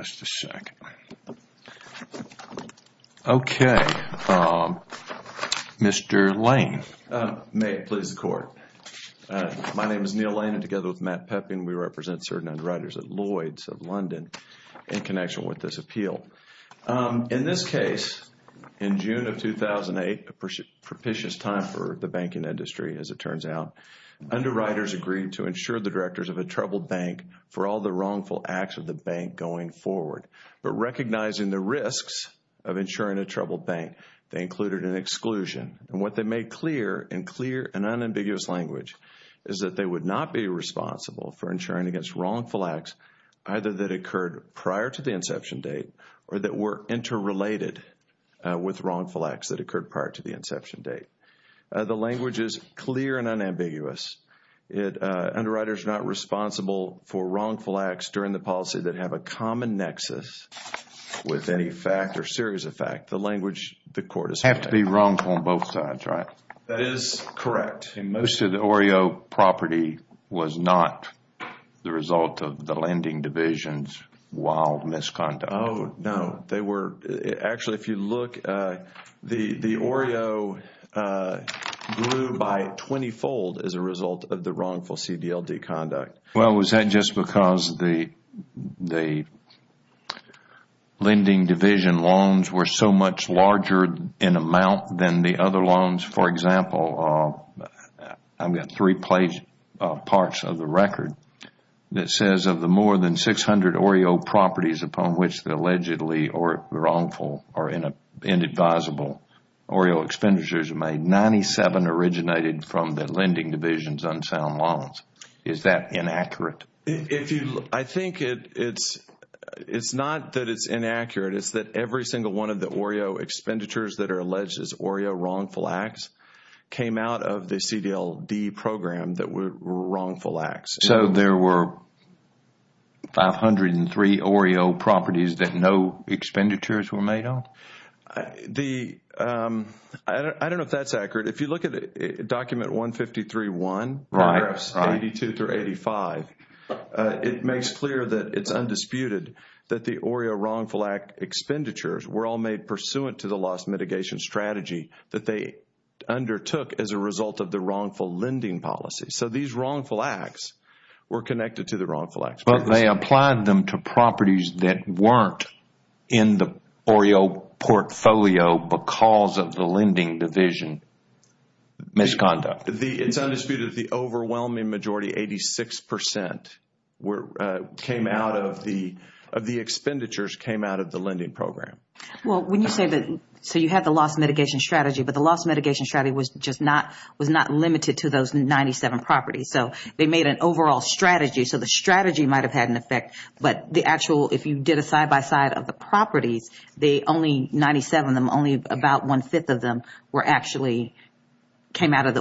Just a second. Okay. Mr. Lane. May it please the Court. My name is Neil Lane and together with Matt Peppin we represent certain underwriters at Lloyd's of London in connection with this appeal. In this case, in June of 2008, a propitious time for the banking industry as it turns out, underwriters agreed to insure the directors of a troubled bank for all the wrongful acts of the bank going forward. But recognizing the risks of insuring a troubled bank, they included an exclusion and what they made clear in clear and unambiguous language is that they would not be responsible for insuring against wrongful acts either that occurred prior to the inception date or that were interrelated with wrongful acts that occurred prior to the inception date. The language is clear and unambiguous. Underwriters are not responsible for wrongful acts during the policy that have a common nexus with any fact or series of fact. The language the Court has made clear. Have to be wrongful on both sides, right? That is correct. Most of the OREO property was not the result of the lending division's wild misconduct. Oh, no. Actually, if you look, the OREO grew by 20-fold as a result of the wrongful CDLD conduct. Well, was that just because the lending division loans were so much larger in amount than the other loans? For example, I have three-page parts of the record that says of the more than 600 OREO properties upon which the allegedly wrongful or inadvisable OREO expenditures are made, 97 originated from the lending division's unsound loans. Is that inaccurate? I think it is not that it is inaccurate. It is that every single one of the OREO expenditures that are alleged as OREO wrongful acts came out of the CDLD program that were wrongful acts. So there were 503 OREO properties that no expenditures were made on? I do not know if that is accurate. If you look at document 153-1, paragraphs 82-85, it makes clear that it is undisputed that the OREO wrongful act expenditures were all made pursuant to the loss mitigation strategy that they undertook as a result of the wrongful lending policy. So these wrongful acts were connected to the wrongful acts. But they applied them to properties that were not in the OREO portfolio because of the lending division misconduct. It is undisputed that the overwhelming majority, 86 percent, of the expenditures came out of the lending program. So you have the loss mitigation strategy, but the loss mitigation strategy was not limited to those 97 properties. So they made an overall strategy. So the strategy might have had an effect, but if you did a side-by-side of the properties, only 97 of them, only about one-fifth of them actually came out of the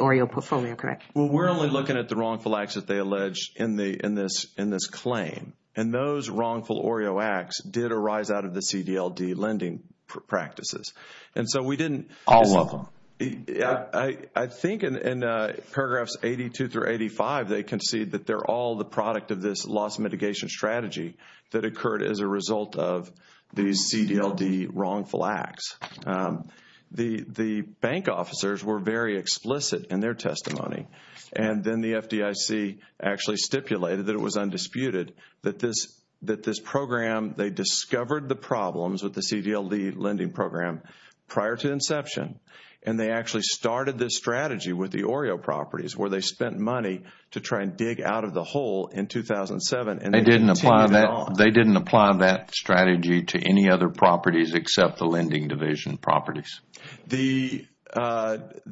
OREO portfolio, correct? We are only looking at the wrongful acts that they allege in this claim. Those wrongful OREO acts did arise out of the CDLD lending practices. And so we didn't... All of them. I think in paragraphs 82 through 85, they concede that they are all the product of this loss mitigation strategy that occurred as a result of the CDLD wrongful acts. The bank officers were very explicit in their testimony. And then the FDIC actually stipulated that it was undisputed that this program, they discovered the problems with the CDLD lending program prior to inception. And they actually started this strategy with the OREO properties where they spent money to try and dig out of the hole in 2007. They didn't apply that strategy to any other properties except the lending division properties? The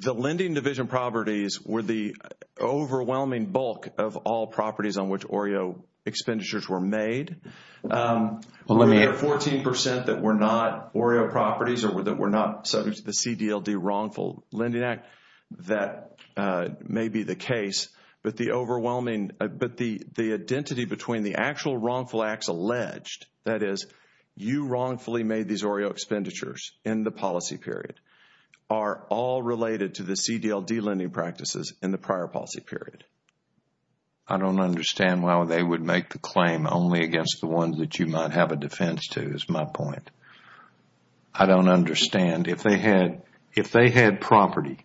lending division properties were the overwhelming bulk of all properties on which OREO expenditures were made. Well, let me... There were 14 percent that were not OREO properties or that were not subject to the CDLD wrongful lending act. That may be the case. But the overwhelming... But the identity between the actual wrongful acts alleged, that is, you wrongfully made these OREO expenditures in the policy period, are all related to the CDLD lending practices in the prior policy period. I don't understand why they would make the claim only against the ones that you might have a defense to, is my point. I don't understand. If they had property,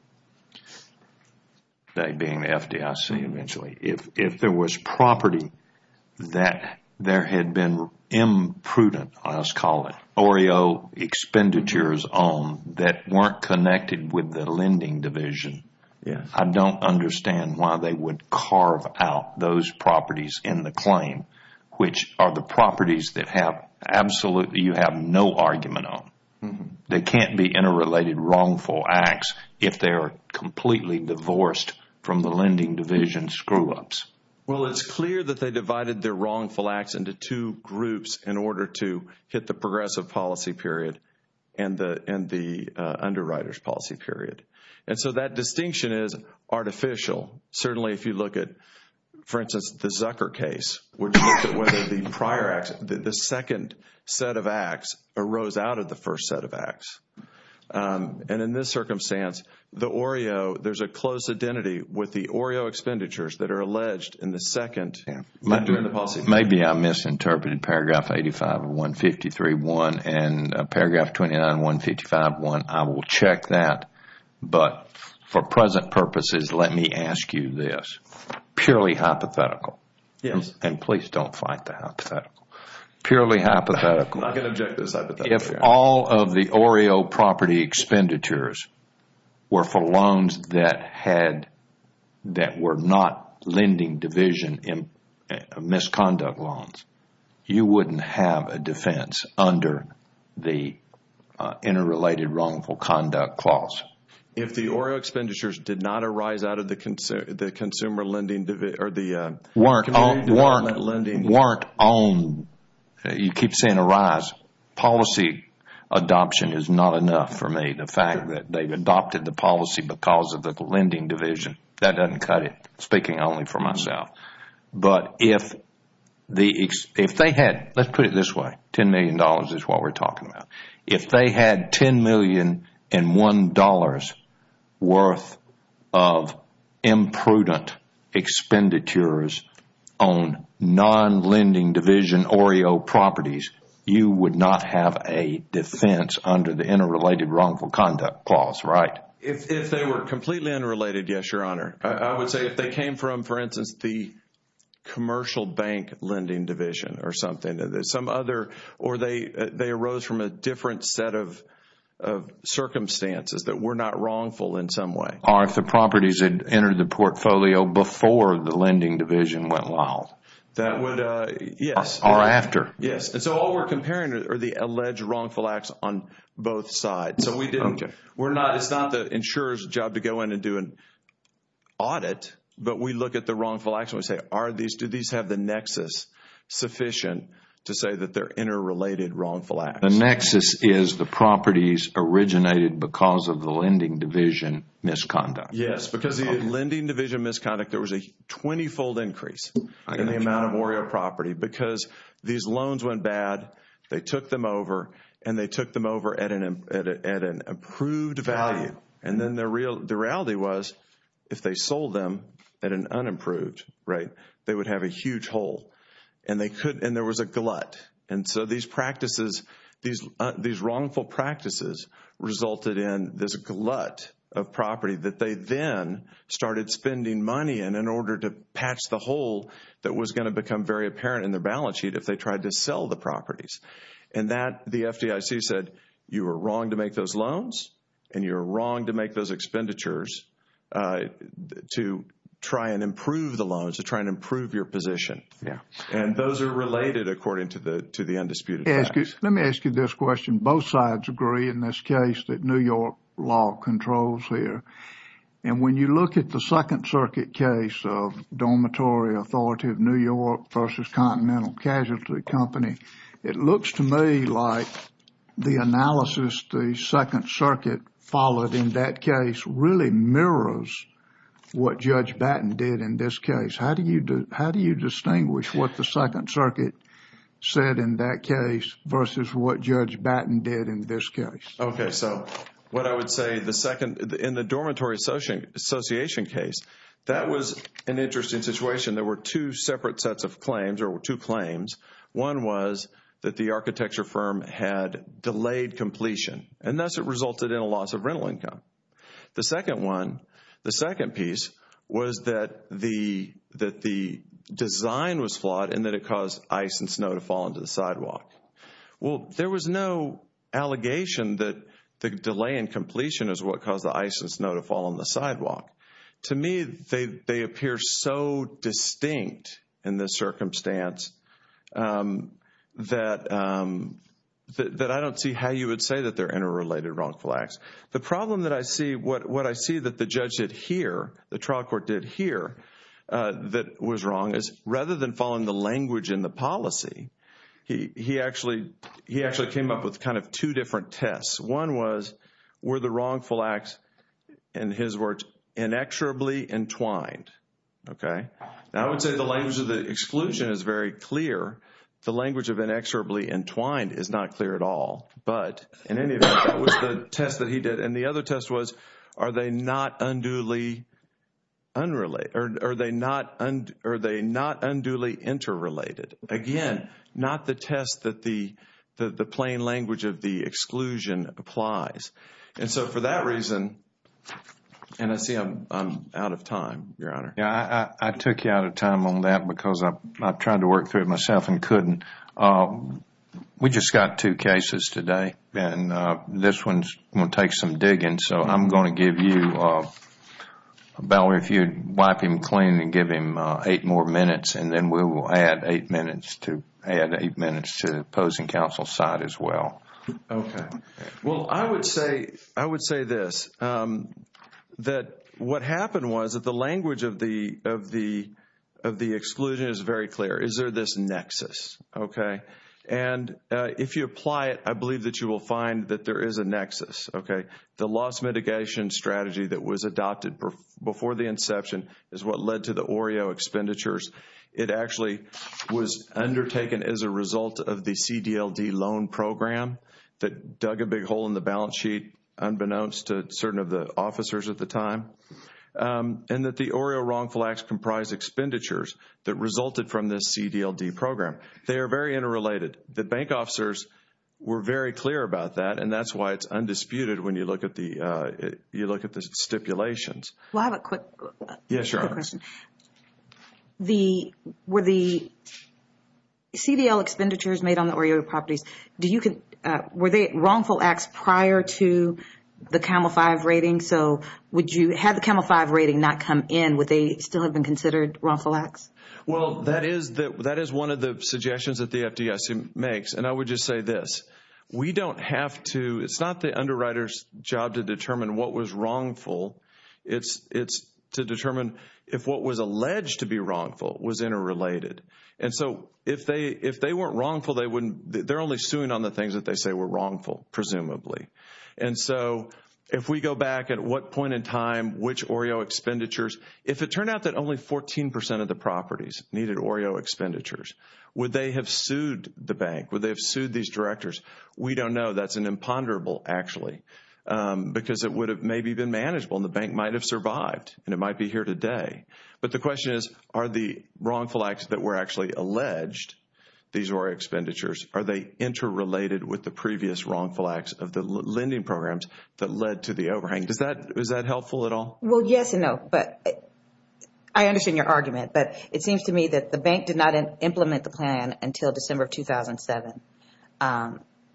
that being the FDIC eventually, if there was property that there had been imprudent, I will call it, OREO expenditures on that weren't connected with the lending division. I don't understand why they would carve out those properties in the claim, which are the properties that absolutely you have no argument on. They can't be interrelated wrongful acts if they are completely divorced from the lending division screw-ups. Well, it's clear that they divided their wrongful acts into two groups in order to hit the progressive policy period and the underwriters policy period. And so that distinction is artificial. Certainly if you look at, for instance, the Zucker case, which looked at whether the prior acts, the second set of acts arose out of the first set of acts. And in this circumstance, the OREO, there's a close identity with the OREO expenditures that are alleged in the second... Maybe I misinterpreted paragraph 85 of 153.1 and paragraph 29 of 155.1. I will check that. But for present purposes, let me ask you this. Purely hypothetical, and please don't fight the hypothetical. Purely hypothetical, if all of the OREO property expenditures were for loans that were not lending division misconduct loans, you wouldn't have a defense under the Interrelated Wrongful Conduct Clause. If the OREO expenditures did not arise out of the consumer lending division or the consumer lending... Weren't on, you keep saying arise. Policy adoption is not enough for me. The fact that they've adopted the policy because of the lending division, that doesn't cut it. Speaking only for myself. But if they had, let's put it this way, $10 million is what we're talking about. If they had $10.1 million worth of imprudent expenditures on non-lending division OREO properties, you would not have a defense under the Interrelated Wrongful Conduct Clause, right? If they were completely unrelated, yes, Your Honor. I would say if they came from, for instance, the commercial bank lending division or something, or they arose from a different set of circumstances that were not wrongful in some way. Or if the properties had entered the portfolio before the lending division went wild. That would, yes. Or after. Yes. And so all we're comparing are the alleged wrongful acts on both sides. So we didn't, we're not, it's not the insurer's job to go in and do an audit, but we look at the wrongful acts and we say, are these, do these have the nexus sufficient to say that they're interrelated wrongful acts? The nexus is the properties originated because of the lending division misconduct. Yes, because the lending division misconduct, there was a 20-fold increase in the amount of warrior property because these loans went bad, they took them over, and they took them over at an improved value. And then the reality was, if they sold them at an unimproved, right, they would have a huge hole. And they could, and there was a glut. And so these practices, these wrongful practices resulted in this glut of property that they then started spending money in in order to patch the hole that was going to become very apparent in their balance sheet if they tried to sell the properties. And that, the FDIC said, you were wrong to make those loans and you were wrong to make those expenditures to try and improve the loans, to try and improve your position. And those are related according to the undisputed facts. Let me ask you this question. Both sides agree in this case that New York law controls here. And when you look at the Second Circuit case of Dormitory Authority of New York versus Continental Casualty Company, it looks to me like the analysis the Second Circuit followed in that case really mirrors what Judge Batten did in this case. How do you distinguish what the Second Circuit said in that case versus what Judge Batten did in this case? Okay, so what I would say, in the dormitory association case, that was an interesting situation. There were two separate sets of claims, or two claims. One was that the architecture firm had delayed completion, and thus it resulted in a loss of rental income. The second one, the second piece, was that the design was flawed and that it caused ice and snow to The delay in completion is what caused the ice and snow to fall on the sidewalk. To me, they appear so distinct in this circumstance that I don't see how you would say that they're interrelated wrongful acts. The problem that I see, what I see that the judge did here, the trial court did here, that was wrong, is rather than following the language in the policy, he actually came up with kind of two different tests. One was, were the wrongful acts, in his words, inexorably entwined? Okay? Now, I would say the language of the exclusion is very clear. The language of inexorably entwined is not clear at all. But in any event, that was the test that he did. And the other test was, are they not unduly unrelated? Are they not unduly interrelated? Again, not the test that the plain language of the exclusion applies. And so for that reason, and I see I'm out of time, Your Honor. I took you out of time on that because I tried to work through it myself and couldn't. We just got two cases today. And this one is going to take some digging. So I'm going to And then we will add eight minutes to add eight minutes to the opposing counsel's side as well. Okay. Well, I would say, I would say this, that what happened was that the language of the exclusion is very clear. Is there this nexus? Okay? And if you apply it, I believe that you will find that there is a nexus. Okay? The loss mitigation strategy that was It actually was undertaken as a result of the CDLD loan program that dug a big hole in the balance sheet, unbeknownst to certain of the officers at the time. And that the Orio wrongful acts comprise expenditures that resulted from this CDLD program. They are very interrelated. The bank officers were very clear about that. And that's why it's undisputed when you look at the, you look at the stipulations. Well, I have a quick question. Yes, Your Honor. The, were the CDLD expenditures made on the Orio properties, do you, were they wrongful acts prior to the CAMEL-5 rating? So would you, had the CAMEL-5 rating not come in, would they still have been considered wrongful acts? Well, that is one of the suggestions that the FDIC makes. And I would just say this, we don't have to, it's not the underwriter's job to determine what was wrongful. It's, it's to determine if what was alleged to be wrongful was interrelated. And so if they, if they weren't wrongful, they wouldn't, they're only suing on the things that they say were wrongful, presumably. And so if we go back at what point in time, which Orio expenditures, if it turned out that only 14% of the properties needed Orio expenditures, would they have sued these directors? We don't know. That's an imponderable, actually, because it would have maybe been manageable and the bank might have survived and it might be here today. But the question is, are the wrongful acts that were actually alleged, these Orio expenditures, are they interrelated with the previous wrongful acts of the lending programs that led to the overhang? Does that, is that helpful at all? Well, yes and no, but I understand your argument, but it seems to me that the bank did not implement the plan until December of 2007.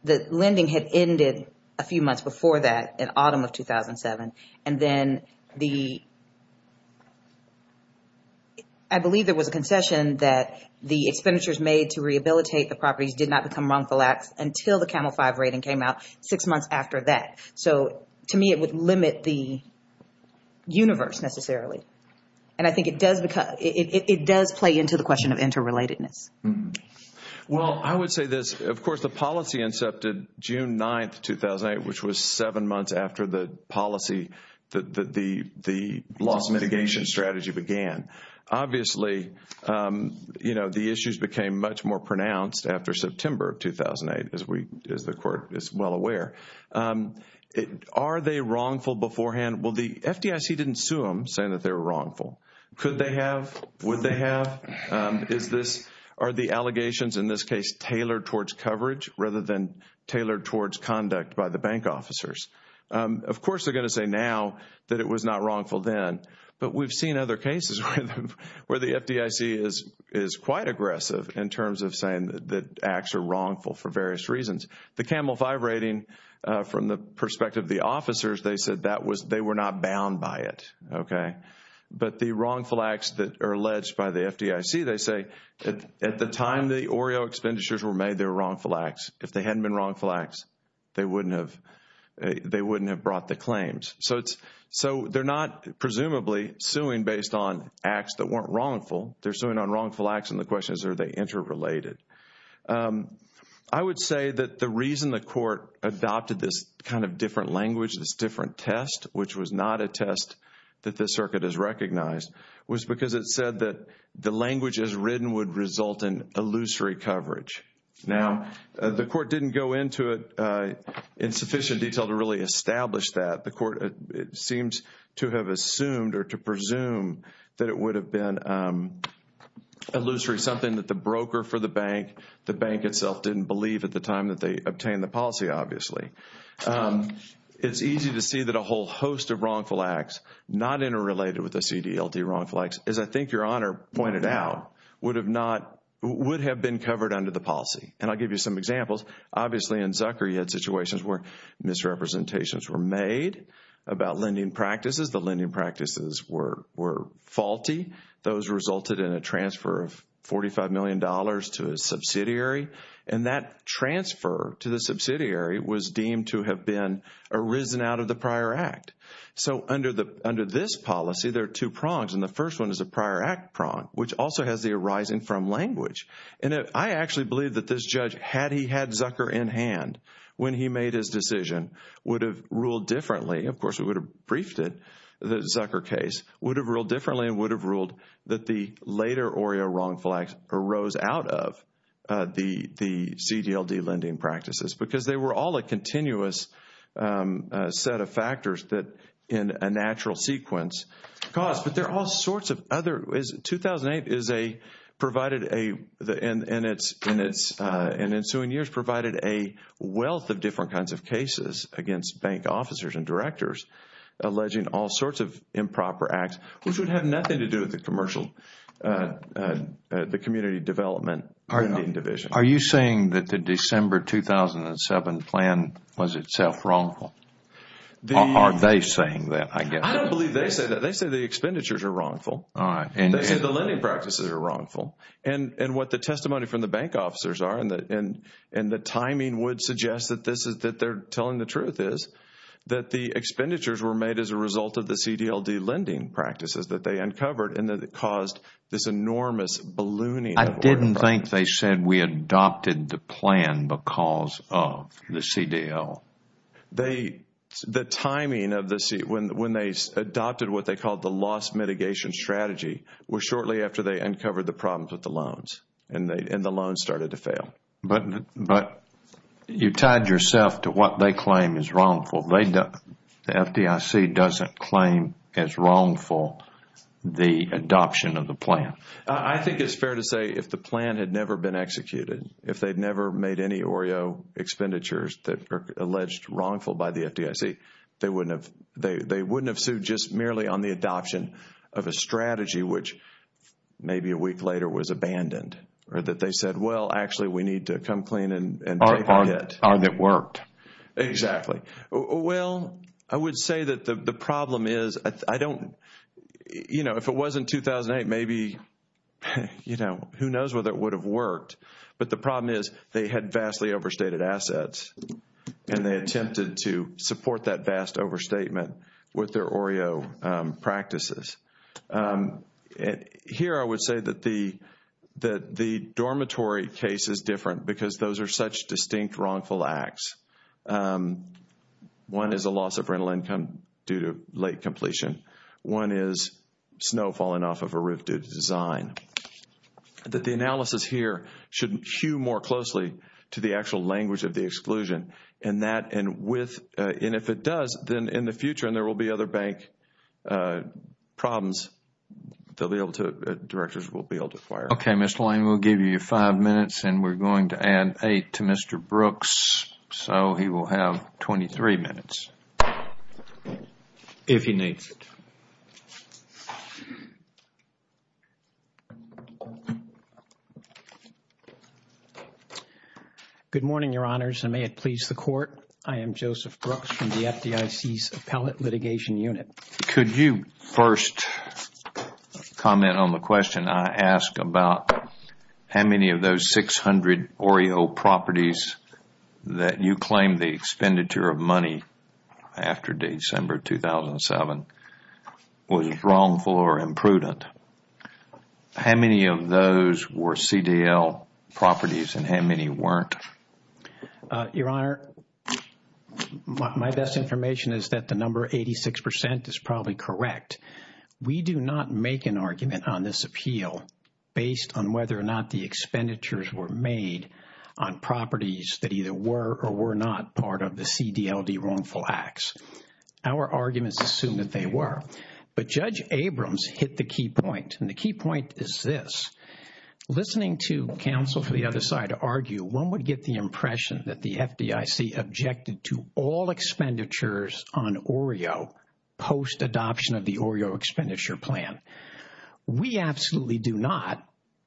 The lending had ended a few months before that, in autumn of 2007. And then the, I believe there was a concession that the expenditures made to rehabilitate the properties did not become wrongful acts until the Camel 5 rating came out six months after that. So to me, it would limit the universe necessarily. And I think it does, it does play into the Well, I would say this. Of course, the policy incepted June 9, 2008, which was seven months after the policy, the loss mitigation strategy began. Obviously, you know, the issues became much more pronounced after September of 2008, as we, as the court is well aware. Are they wrongful beforehand? Well, the FDIC didn't sue them saying that they were wrongful. Could they have? Would they have? Is this, are the allegations in this case tailored towards coverage rather than tailored towards conduct by the bank officers? Of course, they're going to say now that it was not wrongful then, but we've seen other cases where the FDIC is quite aggressive in terms of saying that acts are wrongful for various reasons. The Camel 5 rating, from the perspective of the officers, they said that was, they were not bound by it. Okay. But the wrongful acts that are alleged by the FDIC, they say that at the time the OREO expenditures were made, they were wrongful acts. If they hadn't been wrongful acts, they wouldn't have, they wouldn't have brought the claims. So it's, so they're not presumably suing based on acts that weren't wrongful. They're suing on wrongful acts and the question is, are they interrelated? I would say that the reason the court adopted this kind of different language, this different test, which was not a test that the circuit has recognized, was because it said that the language as written would result in illusory coverage. Now, the court didn't go into it in sufficient detail to really establish that. The court, it seems to have assumed or to presume that it would have been illusory, something that the broker for the bank, the bank itself didn't believe at the time that they obtained the policy, obviously. It's easy to see that a whole host of wrongful acts, not interrelated with the CDLT wrongful acts, as I think your Honor pointed out, would have not, would have been covered under the policy. And I'll give you some examples. Obviously, in Zucker you had situations where misrepresentations were made about lending practices. The lending practices were faulty. Those resulted in a transfer of $45 million to a subsidiary and that transfer to the subsidiary, to have been arisen out of the prior act. So under this policy, there are two prongs. And the first one is a prior act prong, which also has the arising from language. And I actually believe that this judge, had he had Zucker in hand when he made his decision, would have ruled differently. Of course, we would have briefed it, the Zucker case, would have ruled differently and would have ruled that the later ORIA wrongful acts arose out of the CDLT lending practices. Because they were all a continuous set of factors that in a natural sequence caused. But there are all sorts of other, 2008 is a, provided a, in its ensuing years, provided a wealth of different kinds of cases against bank officers and directors, alleging all sorts of improper acts, which would have nothing to do with the commercial, the community development division. Are you saying that the December 2007 plan was itself wrongful? Are they saying that, I guess? I don't believe they say that. They say the expenditures are wrongful. All right. And they say the lending practices are wrongful. And what the testimony from the bank officers are, and the timing would suggest that this is, that they're telling the truth is, that the expenditures were made as a result of the CDLT lending practices that they uncovered, and that it caused this enormous ballooning. I didn't think they said we adopted the plan because of the CDL. They, the timing of the, when they adopted what they called the loss mitigation strategy, was shortly after they uncovered the problems with the loans. And the loans started to fail. But you tied yourself to what they claim is wrongful. The FDIC doesn't claim as wrongful the adoption of the plan. I think it's fair to say if the plan had never been executed, if they'd never made any OREO expenditures that are alleged wrongful by the FDIC, they wouldn't have, they wouldn't have sued just merely on the adoption of a strategy which maybe a week later was abandoned. Or that they said, well, actually we need to come clean and take a hit. Or that worked. Exactly. Well, I would say that the problem is, I don't, you know, if it wasn't 2008, maybe, you know, who knows whether it would have worked. But the problem is they had vastly overstated assets. And they attempted to support that vast overstatement with their OREO practices. Here I would say that the, that the dormitory case is different because those are such distinct wrongful acts. One is a loss of rental income due to late completion. One is snow falling off of a roof due to design. That the analysis here shouldn't hew more closely to the actual language of the exclusion. And that, and with, and if it does, then in the future, and there will be other bank problems, they'll be able to, directors will be able to fire. Okay, Mr. Lane, we'll give you five minutes and we're going to add eight to Mr. Brooks. So he will have 23 minutes. If he needs it. Good morning, Your Honors, and may it please the Court. I am Joseph Brooks from the FDIC's Appellate Litigation Unit. Could you first comment on the question I asked about how many of those 600 OREO properties that you claim the expenditure of money after December 2007 was wrongful or imprudent? How many of those were CDL properties and how many weren't? Your Honor, my best information is that the number 86% is probably correct. We do not make an argument on this appeal based on whether or not the expenditures were made on properties that either were or were not part of the CDLD wrongful acts. Our arguments assume that they were. But Judge Abrams hit the key point, and the key point is this. Listening to counsel for the other side to argue, one would get the impression that the FDIC objected to all expenditures on OREO post adoption of the OREO expenditure plan. We absolutely do not.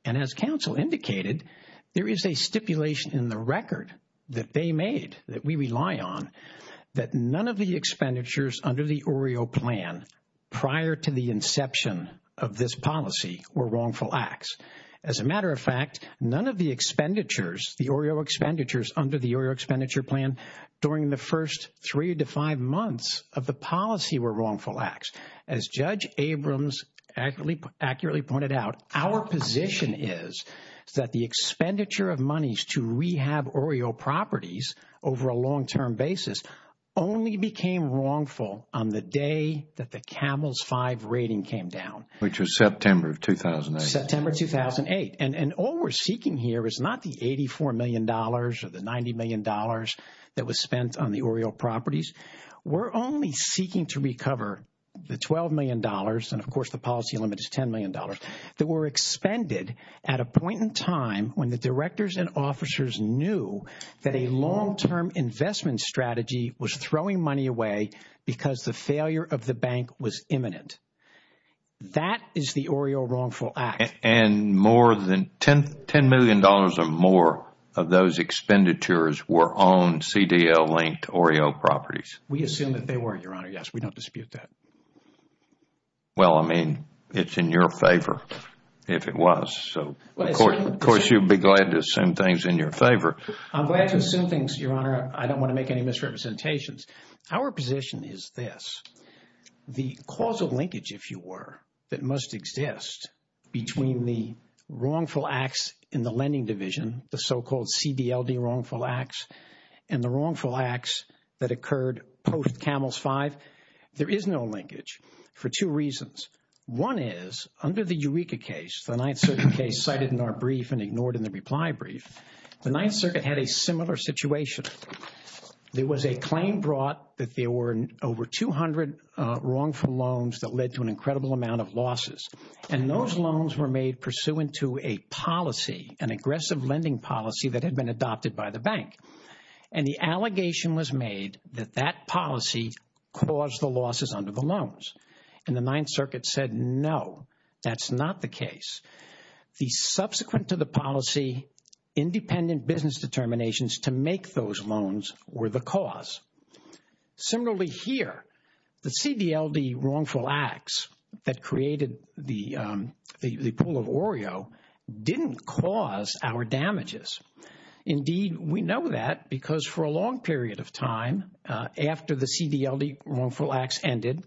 And as counsel indicated, there is a stipulation in the record that they made that we rely on that none of the expenditures under the OREO plan prior to the inception of this policy were wrongful acts. As a matter of fact, none of the expenditures, the OREO expenditures under the OREO expenditure plan during the first three to five months of the policy were wrongful acts. As Judge Abrams accurately pointed out, our position is that the expenditure of monies to rehab OREO properties over a long-term basis only became wrongful on the day that the CAMELS-5 rating came down. Which was September of 2008. September 2008. And all we are seeking here is not the $84 million or the $90 million that was spent on the OREO properties. We are only seeking to recover the $12 million, and of course the policy limit is $10 million, that were expended at a point in time when the directors and officers knew that a long-term investment strategy was that is the OREO wrongful act. And more than $10 million or more of those expenditures were on CDL-linked OREO properties. We assume that they were, Your Honor. Yes, we don't dispute that. Well, I mean, it's in your favor if it was. So of course you'd be glad to assume things in your favor. I'm glad to assume things, Your Honor. I don't want to make any misrepresentations. Our position is this. The causal linkage, if you were, that must exist between the wrongful acts in the lending division, the so-called CDLD wrongful acts, and the wrongful acts that occurred post-CAMELS-5, there is no linkage for two reasons. One is, under the Eureka case, the Ninth Circuit case cited in our brief and ignored in the reply brief, the Ninth Circuit had a similar situation. There was a claim brought that there were over 200 wrongful loans that led to an incredible amount of losses. And those loans were made pursuant to a policy, an aggressive lending policy that had been adopted by the bank. And the allegation was made that that policy caused the losses under the loans. And the Ninth Circuit said, no, that's not the case. The subsequent to the policy, independent business determinations to make those loans were the cause. Similarly here, the CDLD wrongful acts that created the pool of OREO didn't cause our damages. Indeed, we know that because for a long period of time, after the CDLD wrongful acts ended,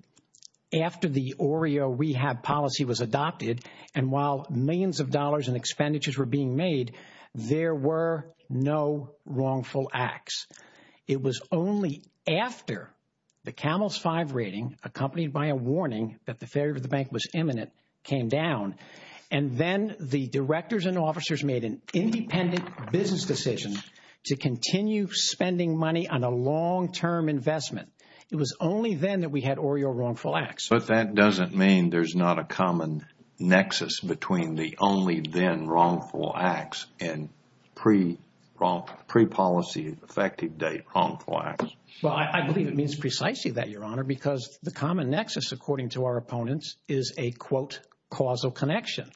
after the OREO rehab policy was adopted, and while millions of dollars in expenditures were being made, there were no wrongful acts. It was only after the CAMELS-5 rating, accompanied by a warning that the failure of the bank was imminent, came down. And then the directors and officers made an independent business decision to continue spending money on a long-term investment. It was only then that we had OREO wrongful acts. But that doesn't mean there's not a common nexus between the only then wrongful acts and pre-policy effective date wrongful acts. Well, I believe it means precisely that, Your Honor, because the common nexus, according to our opponents, is a, quote, causal connection.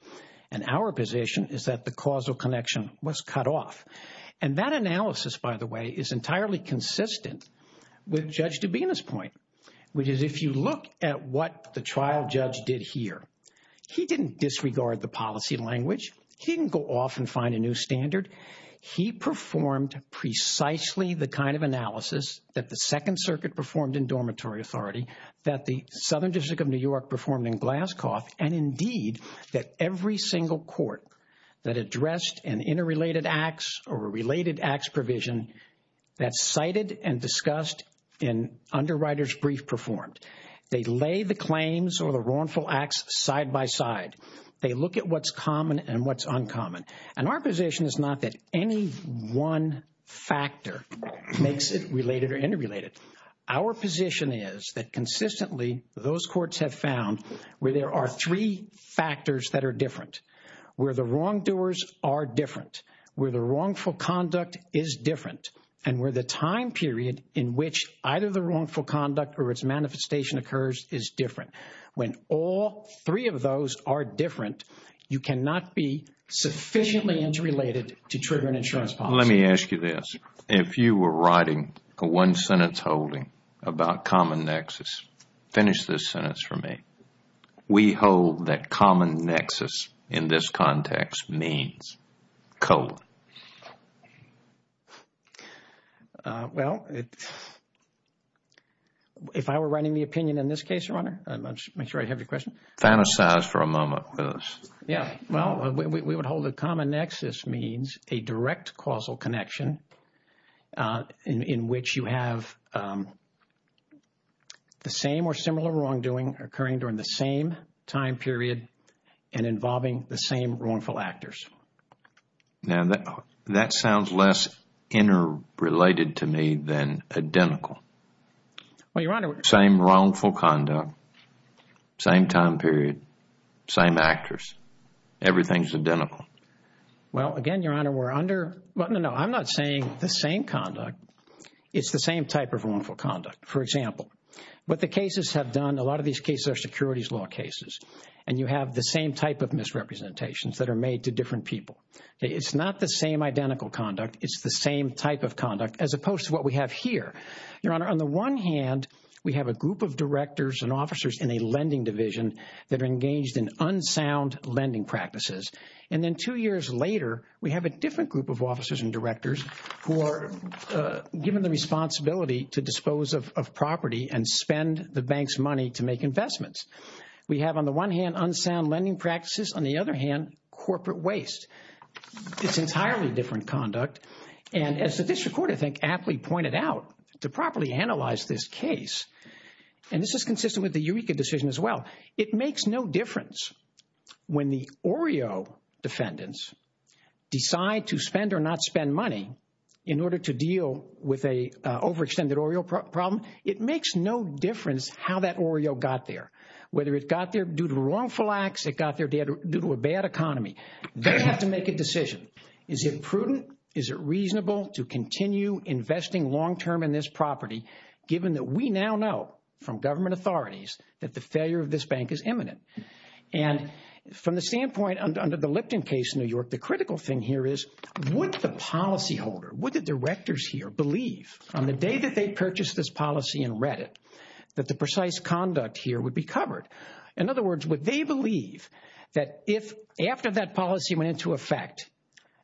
And our position is that the causal connection was cut off. And that analysis, by the way, is entirely consistent with Judge Dubina's point, which is if you look at what the trial judge did here, he didn't disregard the policy language. He didn't go off and find a new standard. He performed precisely the kind of analysis that the Second Circuit performed in Dormitory Authority, that the Southern District of New York performed in Glascoff, and indeed, that every single court that addressed an interrelated acts or a related acts provision that's cited and discussed in underwriters' brief performed. They lay the claims or the wrongful acts side by side. They look at what's common and what's uncommon. And our position is that any one factor makes it related or interrelated. Our position is that consistently, those courts have found where there are three factors that are different, where the wrongdoers are different, where the wrongful conduct is different, and where the time period in which either the wrongful conduct or its manifestation occurs is different. When all three of those are to trigger an insurance policy. Let me ask you this. If you were writing a one-sentence holding about common nexus, finish this sentence for me. We hold that common nexus in this context means colon. Well, if I were writing the opinion in this case, Your Honor, make sure I have your question. Fantasize for a moment, please. Yeah. Well, we would hold a common nexus means a direct causal connection in which you have the same or similar wrongdoing occurring during the same time period and involving the same wrongful actors. Now, that sounds less interrelated to me than identical. Well, Your Honor. Same wrongful conduct, same time period, same actors. Everything's identical. Well, again, Your Honor, we're under, no, no, no. I'm not saying the same conduct. It's the same type of wrongful conduct. For example, what the cases have done, a lot of these cases are securities law cases, and you have the same type of misrepresentations that are made to different people. It's not the same identical conduct. It's the same type of conduct as opposed to what we have here. Your Honor, on the one hand, we have a group of directors and officers in a lending division that are engaged in unsound lending practices. And then two years later, we have a different group of officers and directors who are given the responsibility to dispose of property and spend the bank's money to make investments. We have, on the one hand, unsound lending practices, on the other hand, corporate waste. It's entirely different conduct. And as the district court, I think, aptly pointed out to properly analyze this case, and this is consistent with the Eureka decision as well, it makes no difference when the OREO defendants decide to spend or not spend money in order to deal with a overextended OREO problem. It makes no difference how that OREO got there, whether due to wrongful acts, it got there due to a bad economy. They have to make a decision. Is it prudent? Is it reasonable to continue investing long-term in this property, given that we now know from government authorities that the failure of this bank is imminent? And from the standpoint under the Lipton case in New York, the critical thing here is, would the policyholder, would the directors here believe on the day that they purchased this In other words, would they believe that if, after that policy went into effect,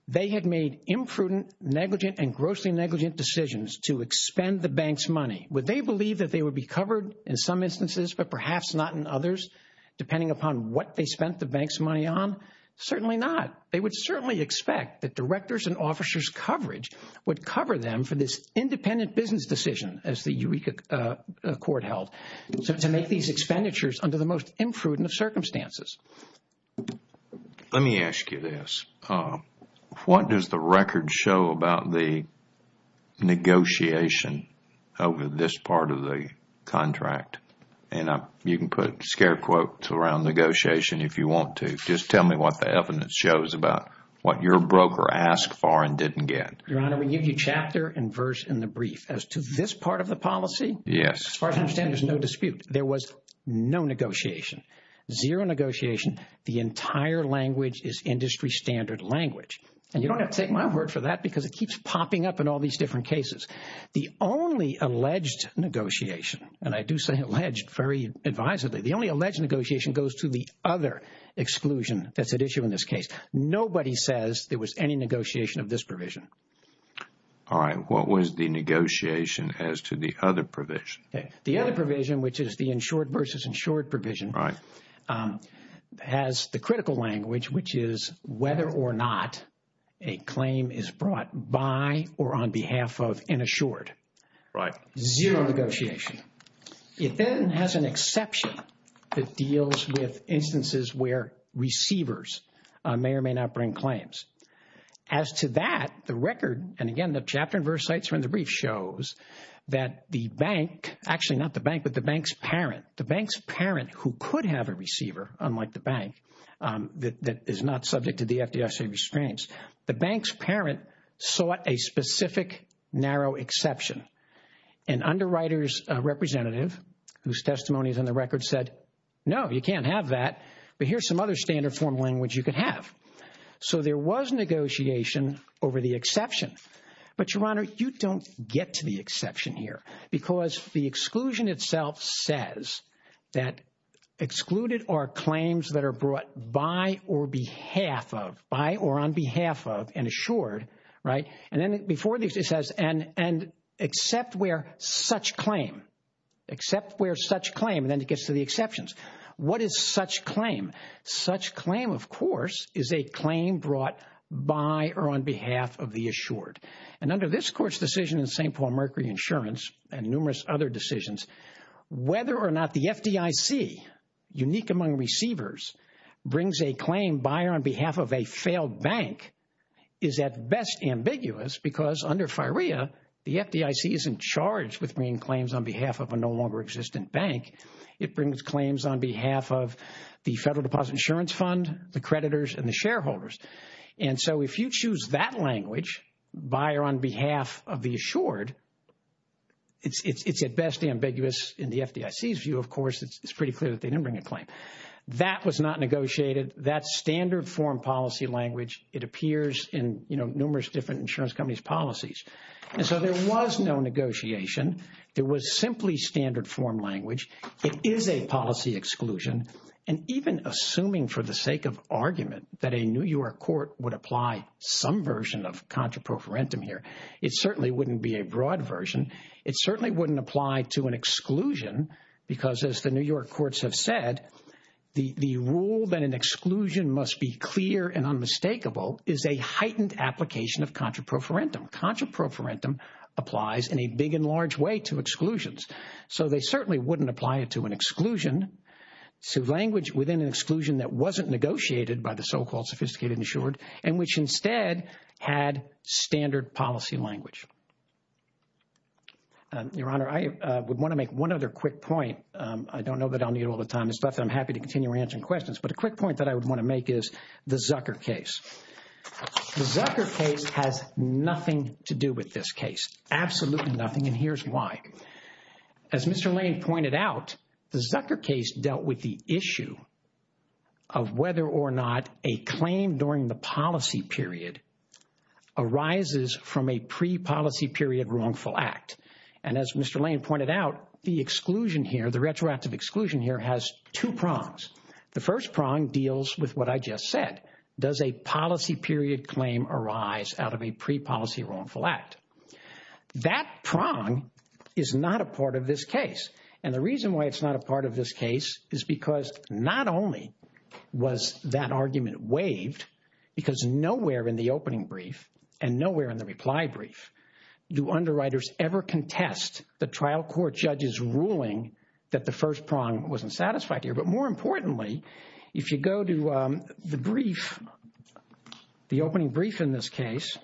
they had made imprudent, negligent, and grossly negligent decisions to expend the bank's money, would they believe that they would be covered in some instances, but perhaps not in others, depending upon what they spent the bank's money on? Certainly not. They would certainly expect that directors and officers' coverage would cover them for this independent business decision, as the Eureka Court held. So to make these expenditures under the most imprudent of circumstances. Let me ask you this. What does the record show about the negotiation over this part of the contract? And you can put scare quotes around negotiation if you want to. Just tell me what the evidence shows about what your broker asked for and didn't get. Your Honor, we give you chapter and verse in the brief as to this part of the policy. Yes. As far as I understand, there's no dispute. There was no negotiation, zero negotiation. The entire language is industry standard language. And you don't have to take my word for that because it keeps popping up in all these different cases. The only alleged negotiation, and I do say alleged very advisedly, the only alleged negotiation goes to the other exclusion that's at issue in this case. Nobody says there was any negotiation of this provision. All right. What was the negotiation as to the other provision? The other provision, which is the insured versus insured provision. Right. Has the critical language, which is whether or not a claim is brought by or on behalf of an insured. Right. Zero negotiation. It then has an exception that deals with instances where receivers may or may not bring claims. As to that, the record, and again, the chapter and verse cites from the brief shows that the bank, actually not the bank, but the bank's parent, the bank's parent who could have a receiver, unlike the bank, that is not subject to the FDIC restraints, the bank's parent sought a specific narrow exception. An underwriter's representative whose testimony is on the record said, no, you can't have that. But here's some other standard form of language you could have. So there was negotiation over the exception. But, Your Honor, you don't get to the exception here because the exclusion itself says that excluded are claims that are brought by or behalf of, by or on behalf of an assured. Right. And then before this, it says, and except where such claim, except where such claim, and then it gets to the exceptions. What is such claim? Such claim, of course, is a claim brought by or on behalf of the assured. And under this Court's decision in St. Paul Mercury Insurance and numerous other decisions, whether or not the FDIC, unique among receivers, brings a claim by or on behalf of a failed bank is at best ambiguous because under FIREA, the FDIC isn't charged with bringing claims on behalf of a no longer existent bank. It brings claims on behalf of the Federal Deposit Insurance Fund, the creditors, and the shareholders. And so if you choose that language, by or on behalf of the assured, it's at best ambiguous. In the FDIC's view, of course, it's pretty clear that they didn't bring a claim. That was not negotiated. That's standard form policy language. It appears in, you know, numerous different insurance companies' policies. And so there was no negotiation. There was simply standard form language. It is a policy exclusion. And even assuming for the sake of argument that a New York court would apply some version of contraproferentum here, it certainly wouldn't be a broad version. It certainly wouldn't apply to an exclusion because as the New York courts have said, the rule that an exclusion must be clear and unmistakable is a heightened application of contraproferentum. Contraproferentum applies in a big and large way to exclusions. So they certainly wouldn't apply it to an exclusion, to language within an exclusion that wasn't negotiated by the so-called sophisticated and assured, and which instead had standard policy language. Your Honor, I would want to make one other quick point. I don't know that I'll need all the time, the stuff that I'm happy to continue answering questions, but a quick point that I would want to make is the Zucker case. The Zucker case has nothing to do with this case, absolutely nothing, and here's why. As Mr. Lane pointed out, the Zucker case dealt with the issue of whether or not a claim during the policy period arises from a pre-policy period wrongful act. And as Mr. Lane pointed out, the exclusion here, the retroactive exclusion here has two prongs. The first prong deals with what I just said. Does a policy period claim arise out of a pre-policy wrongful act? That prong is not a part of this case. And the reason why it's not a part of this case is because not only was that argument waived, because nowhere in the opening brief and nowhere in the reply brief do underwriters ever contest the trial court judge's ruling that the first prong wasn't satisfied here. But more importantly, if you go to the brief, the opening brief in this case,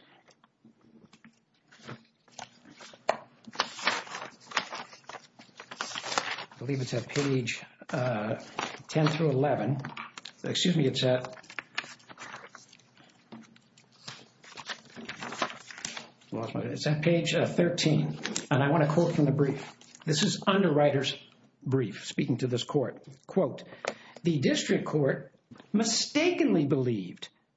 I believe it's at page 10 through 11, excuse me, it's at page 13, and I want to quote from the brief. This is underwriter's brief speaking to this court. Quote, the district court mistakenly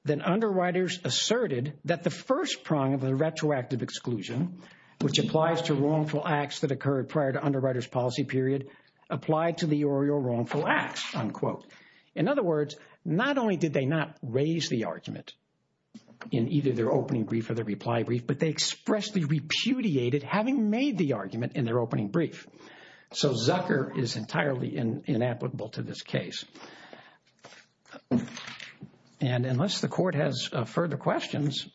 then underwriters asserted that the first prong of the retroactive exclusion, which applies to wrongful acts that occurred prior to underwriter's policy period, applied to the oral wrongful acts, unquote. In other words, not only did they not raise the argument in either their opening brief or their reply brief, but they expressly repudiated having made the argument in their opening brief. So Zucker is entirely inapplicable to this case. And unless the court has further questions,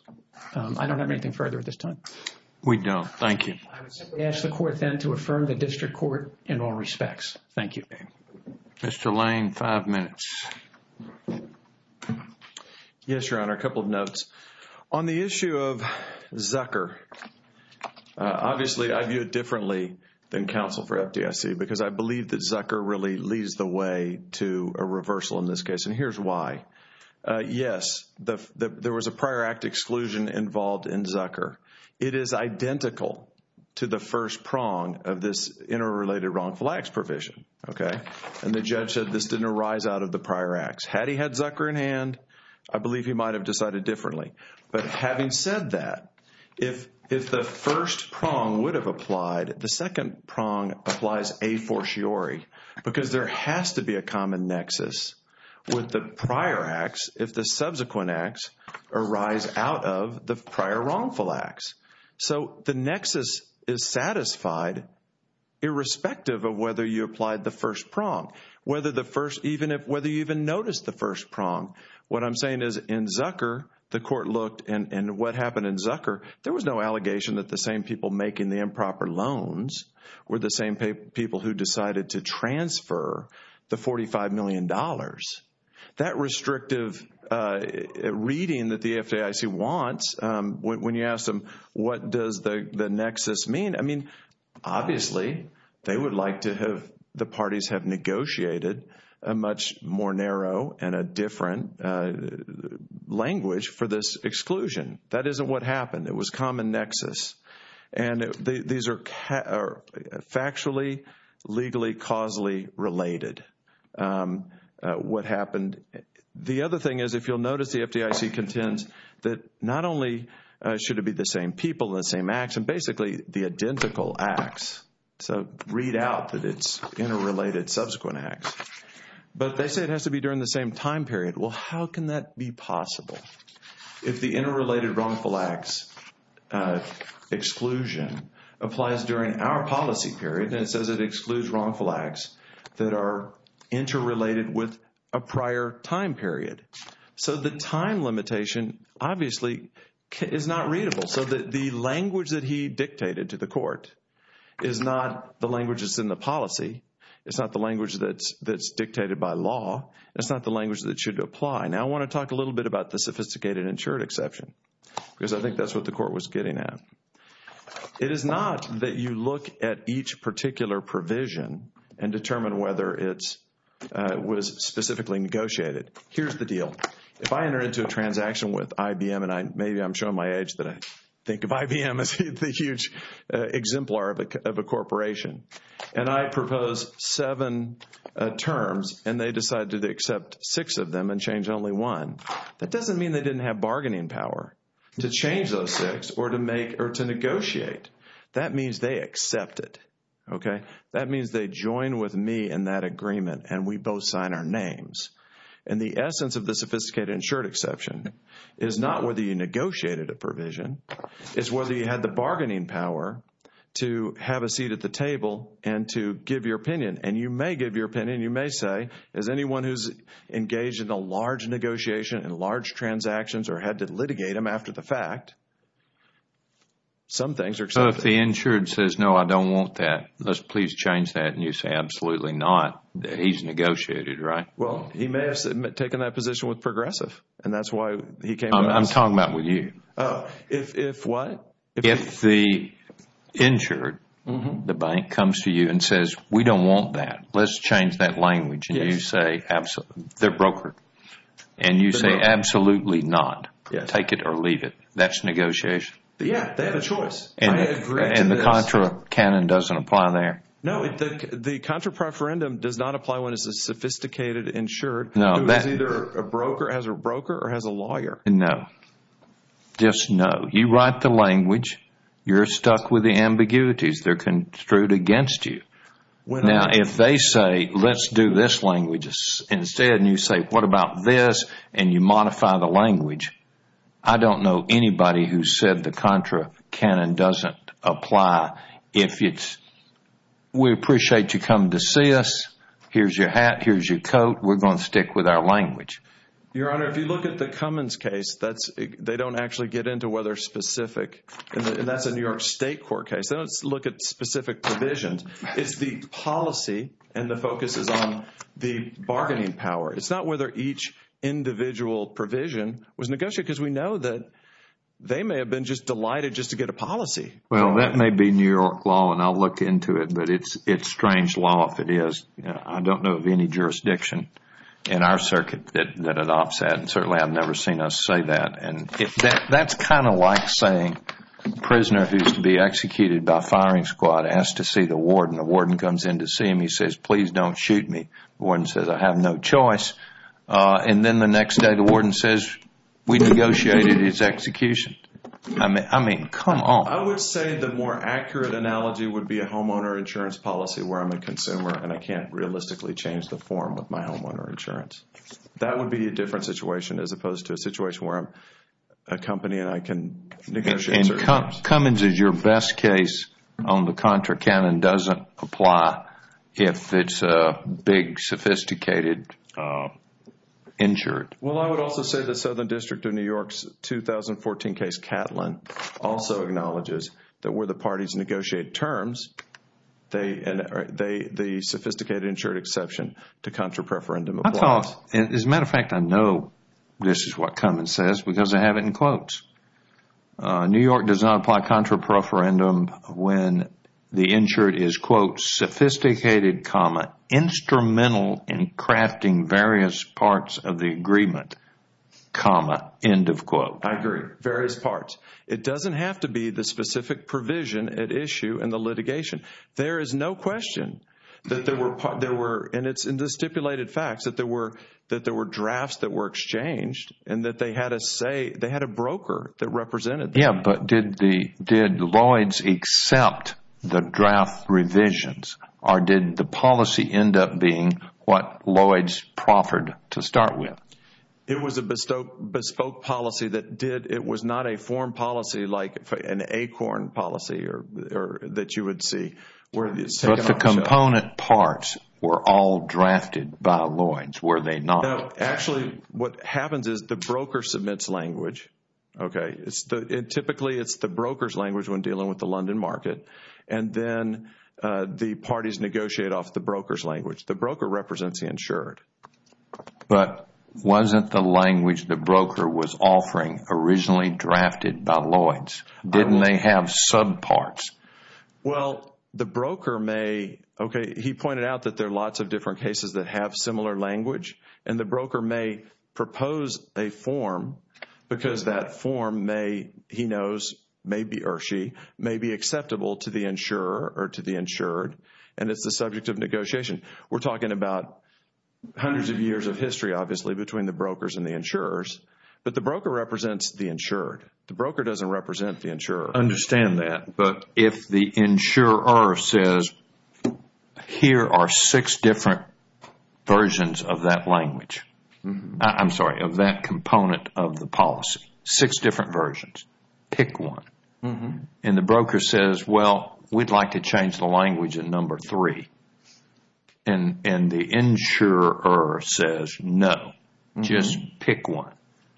I don't have anything further at this time. We don't. Thank you. I would simply ask the court then to affirm the district court in all respects. Thank you. Mr. Lane, five minutes. Yes, Your Honor, a couple of notes. On the issue of Zucker, obviously I view it differently than counsel for FDIC because I believe that Zucker really leads the way to a reversal in this case, and here's why. Yes, there was a prior act exclusion involved in Zucker. It is identical to the first prong of this interrelated wrongful acts provision, okay? And the judge said this didn't arise out of the prior acts. Had he had Zucker in hand, I believe he might have decided differently. But having said that, if the first prong would have applied, the second prong applies a fortiori because there has to be a common nexus with the prior acts if the subsequent acts arise out of the prior wrongful acts. So the nexus is satisfied irrespective of whether you applied the first prong, whether you even noticed the first prong. What I'm saying is in Zucker, the court looked and what happened in Zucker, there was no allegation that the same people making the improper loans were the same people who decided to transfer the $45 million. That restrictive reading that the FDIC wants, when you ask them what does the nexus mean, I mean, obviously they would like to have, the parties have negotiated a much more narrow and a different language for this exclusion. That isn't what happened. It was common nexus. And these are factually, legally, causally related what happened. The other thing is, if you'll notice, the FDIC contends that not only should it be the same people, the same acts, and basically the identical acts. So read out that it's interrelated subsequent acts. But they say it has to be during the same time period. Well, how can that be possible? If the interrelated wrongful acts exclusion applies during our policy period and it says it excludes wrongful acts that are interrelated with a prior time period. So the time limitation, obviously, is not readable. So that the language that he dictated to the court is not the language that's in the policy. It's not the language that's dictated by law. It's not the language that should apply. Now I want to talk a little bit about the sophisticated insured exception because I think that's what the court was getting at. It is not that you look at each particular provision and determine whether it was specifically negotiated. Here's the deal. If I enter into a transaction with IBM, and maybe I'm showing my age that I think of IBM as the huge exemplar of a corporation, and I propose seven terms and they decide to accept six of them and change only one, that doesn't mean they didn't have bargaining power to change those six or to negotiate. That means they accept it, okay? That means they join with me in that agreement and we both sign our names. And the essence of the sophisticated insured exception is not whether you negotiated a provision. It's whether you had the bargaining power to have a seat at the table and to give your opinion. And you may give your opinion. You may say, as anyone who's engaged in a large negotiation and large transactions or had to litigate them after the fact, some things are that. Let's please change that. And you say, absolutely not. He's negotiated, right? Well, he may have taken that position with Progressive. And that's why he came out. I'm talking about with you. If what? If the insured, the bank comes to you and says, we don't want that. Let's change that language. They're brokered. And you say, absolutely not. Take it or leave it. That's negotiation. Yeah, they have a choice. And the contra-canon doesn't apply there? No, the contra-preferendum does not apply when it's a sophisticated insured. No. It was either a broker, has a broker or has a lawyer. No. Just no. You write the language. You're stuck with the ambiguities. They're construed against you. Now, if they say, let's do this language instead, and you say, what about this? And you apply. We appreciate you coming to see us. Here's your hat. Here's your coat. We're going to stick with our language. Your Honor, if you look at the Cummins case, they don't actually get into whether specific. That's a New York State court case. They don't look at specific provisions. It's the policy and the focus is on the bargaining power. It's not whether each individual provision was negotiated because we know that they may have been just delighted just to get a policy. Well, that may be New York law, and I'll look into it, but it's strange law if it is. I don't know of any jurisdiction in our circuit that it offsets, and certainly I've never seen us say that. And that's kind of like saying a prisoner who's to be executed by a firing squad has to see the warden. The warden comes in to see him. He says, please don't shoot me. The warden says, I have no choice. And then the next day, the warden says, we negotiated his execution. I mean, come on. I would say the more accurate analogy would be a homeowner insurance policy where I'm a consumer and I can't realistically change the form of my homeowner insurance. That would be a different situation as opposed to a situation where I'm a company and I can negotiate insurance. Cummins is your best case on the contra count and doesn't apply if it's a big sophisticated insured. Well, I would also say the Southern District of New York's 2014 case Catlin also acknowledges that where the parties negotiate terms, the sophisticated insured exception to contra preferendum applies. I thought, as a matter of fact, I know this is what Cummins says because I have it in quotes. New York does not apply contra preferendum when the insured is, quote, sophisticated, comma, instrumental in crafting various parts of the agreement, comma, end of quote. I agree. Various parts. It doesn't have to be the specific provision at issue in the litigation. There is no question that there were, and it's in the stipulated facts, that there were that represented that. Yeah, but did Lloyd's accept the draft revisions or did the policy end up being what Lloyd's proffered to start with? It was a bespoke policy that did. It was not a form policy like an acorn policy that you would see where it's taken on a shelf. But the component parts were all drafted by Lloyd's, were they not? Actually, what happens is the broker submits language. Typically, it's the broker's language when dealing with the London market. And then the parties negotiate off the broker's language. The broker represents the insured. But wasn't the language the broker was offering originally drafted by Lloyd's? Didn't they have subparts? Well, the broker may, okay, he pointed out that there are lots of different cases that have similar language and the broker may propose a form because that form may, he knows, may be, or she, may be acceptable to the insurer or to the insured. And it's the subject of negotiation. We're talking about hundreds of years of history, obviously, between the brokers and the insurers. But the broker represents the insured. The broker doesn't represent the insurer. But if the insurer says, here are six different versions of that language, I'm sorry, of that component of the policy, six different versions, pick one. And the broker says, well, we'd like to change the language in number three. And the insurer says, no, just pick one.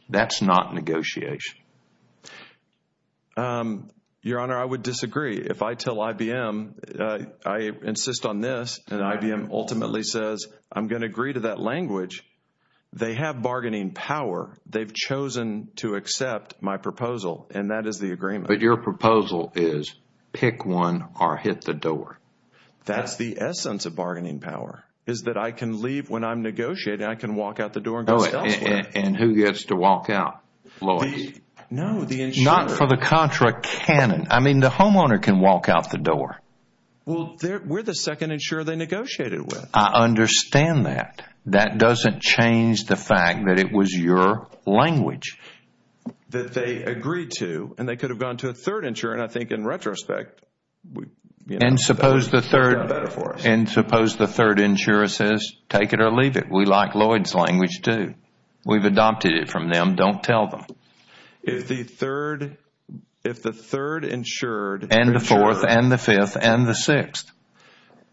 That's not negotiation. Your Honor, I would disagree. If I tell IBM, I insist on this, and IBM ultimately says, I'm going to agree to that language, they have bargaining power. They've chosen to accept my proposal. And that is the agreement. But your proposal is pick one or hit the door. That's the essence of bargaining power, is that I can leave when I'm negotiating. I can walk out the door and go elsewhere. And who gets to walk out? No, the insurer. For the contra, Canon. I mean, the homeowner can walk out the door. Well, we're the second insurer they negotiated with. I understand that. That doesn't change the fact that it was your language that they agreed to. And they could have gone to a third insurer. And I think in retrospect... And suppose the third insurer says, take it or leave it. We like Lloyd's language, too. We've adopted it from them. Don't tell them. If the third insured... And the fourth and the fifth and the sixth.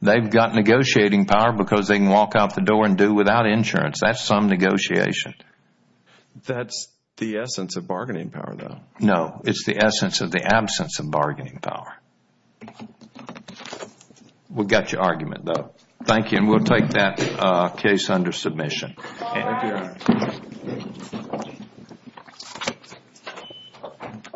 They've got negotiating power because they can walk out the door and do without insurance. That's some negotiation. That's the essence of bargaining power, though. No, it's the essence of the absence of bargaining power. We got your argument, though. Thank you. And we'll take that case under submission. Thank you.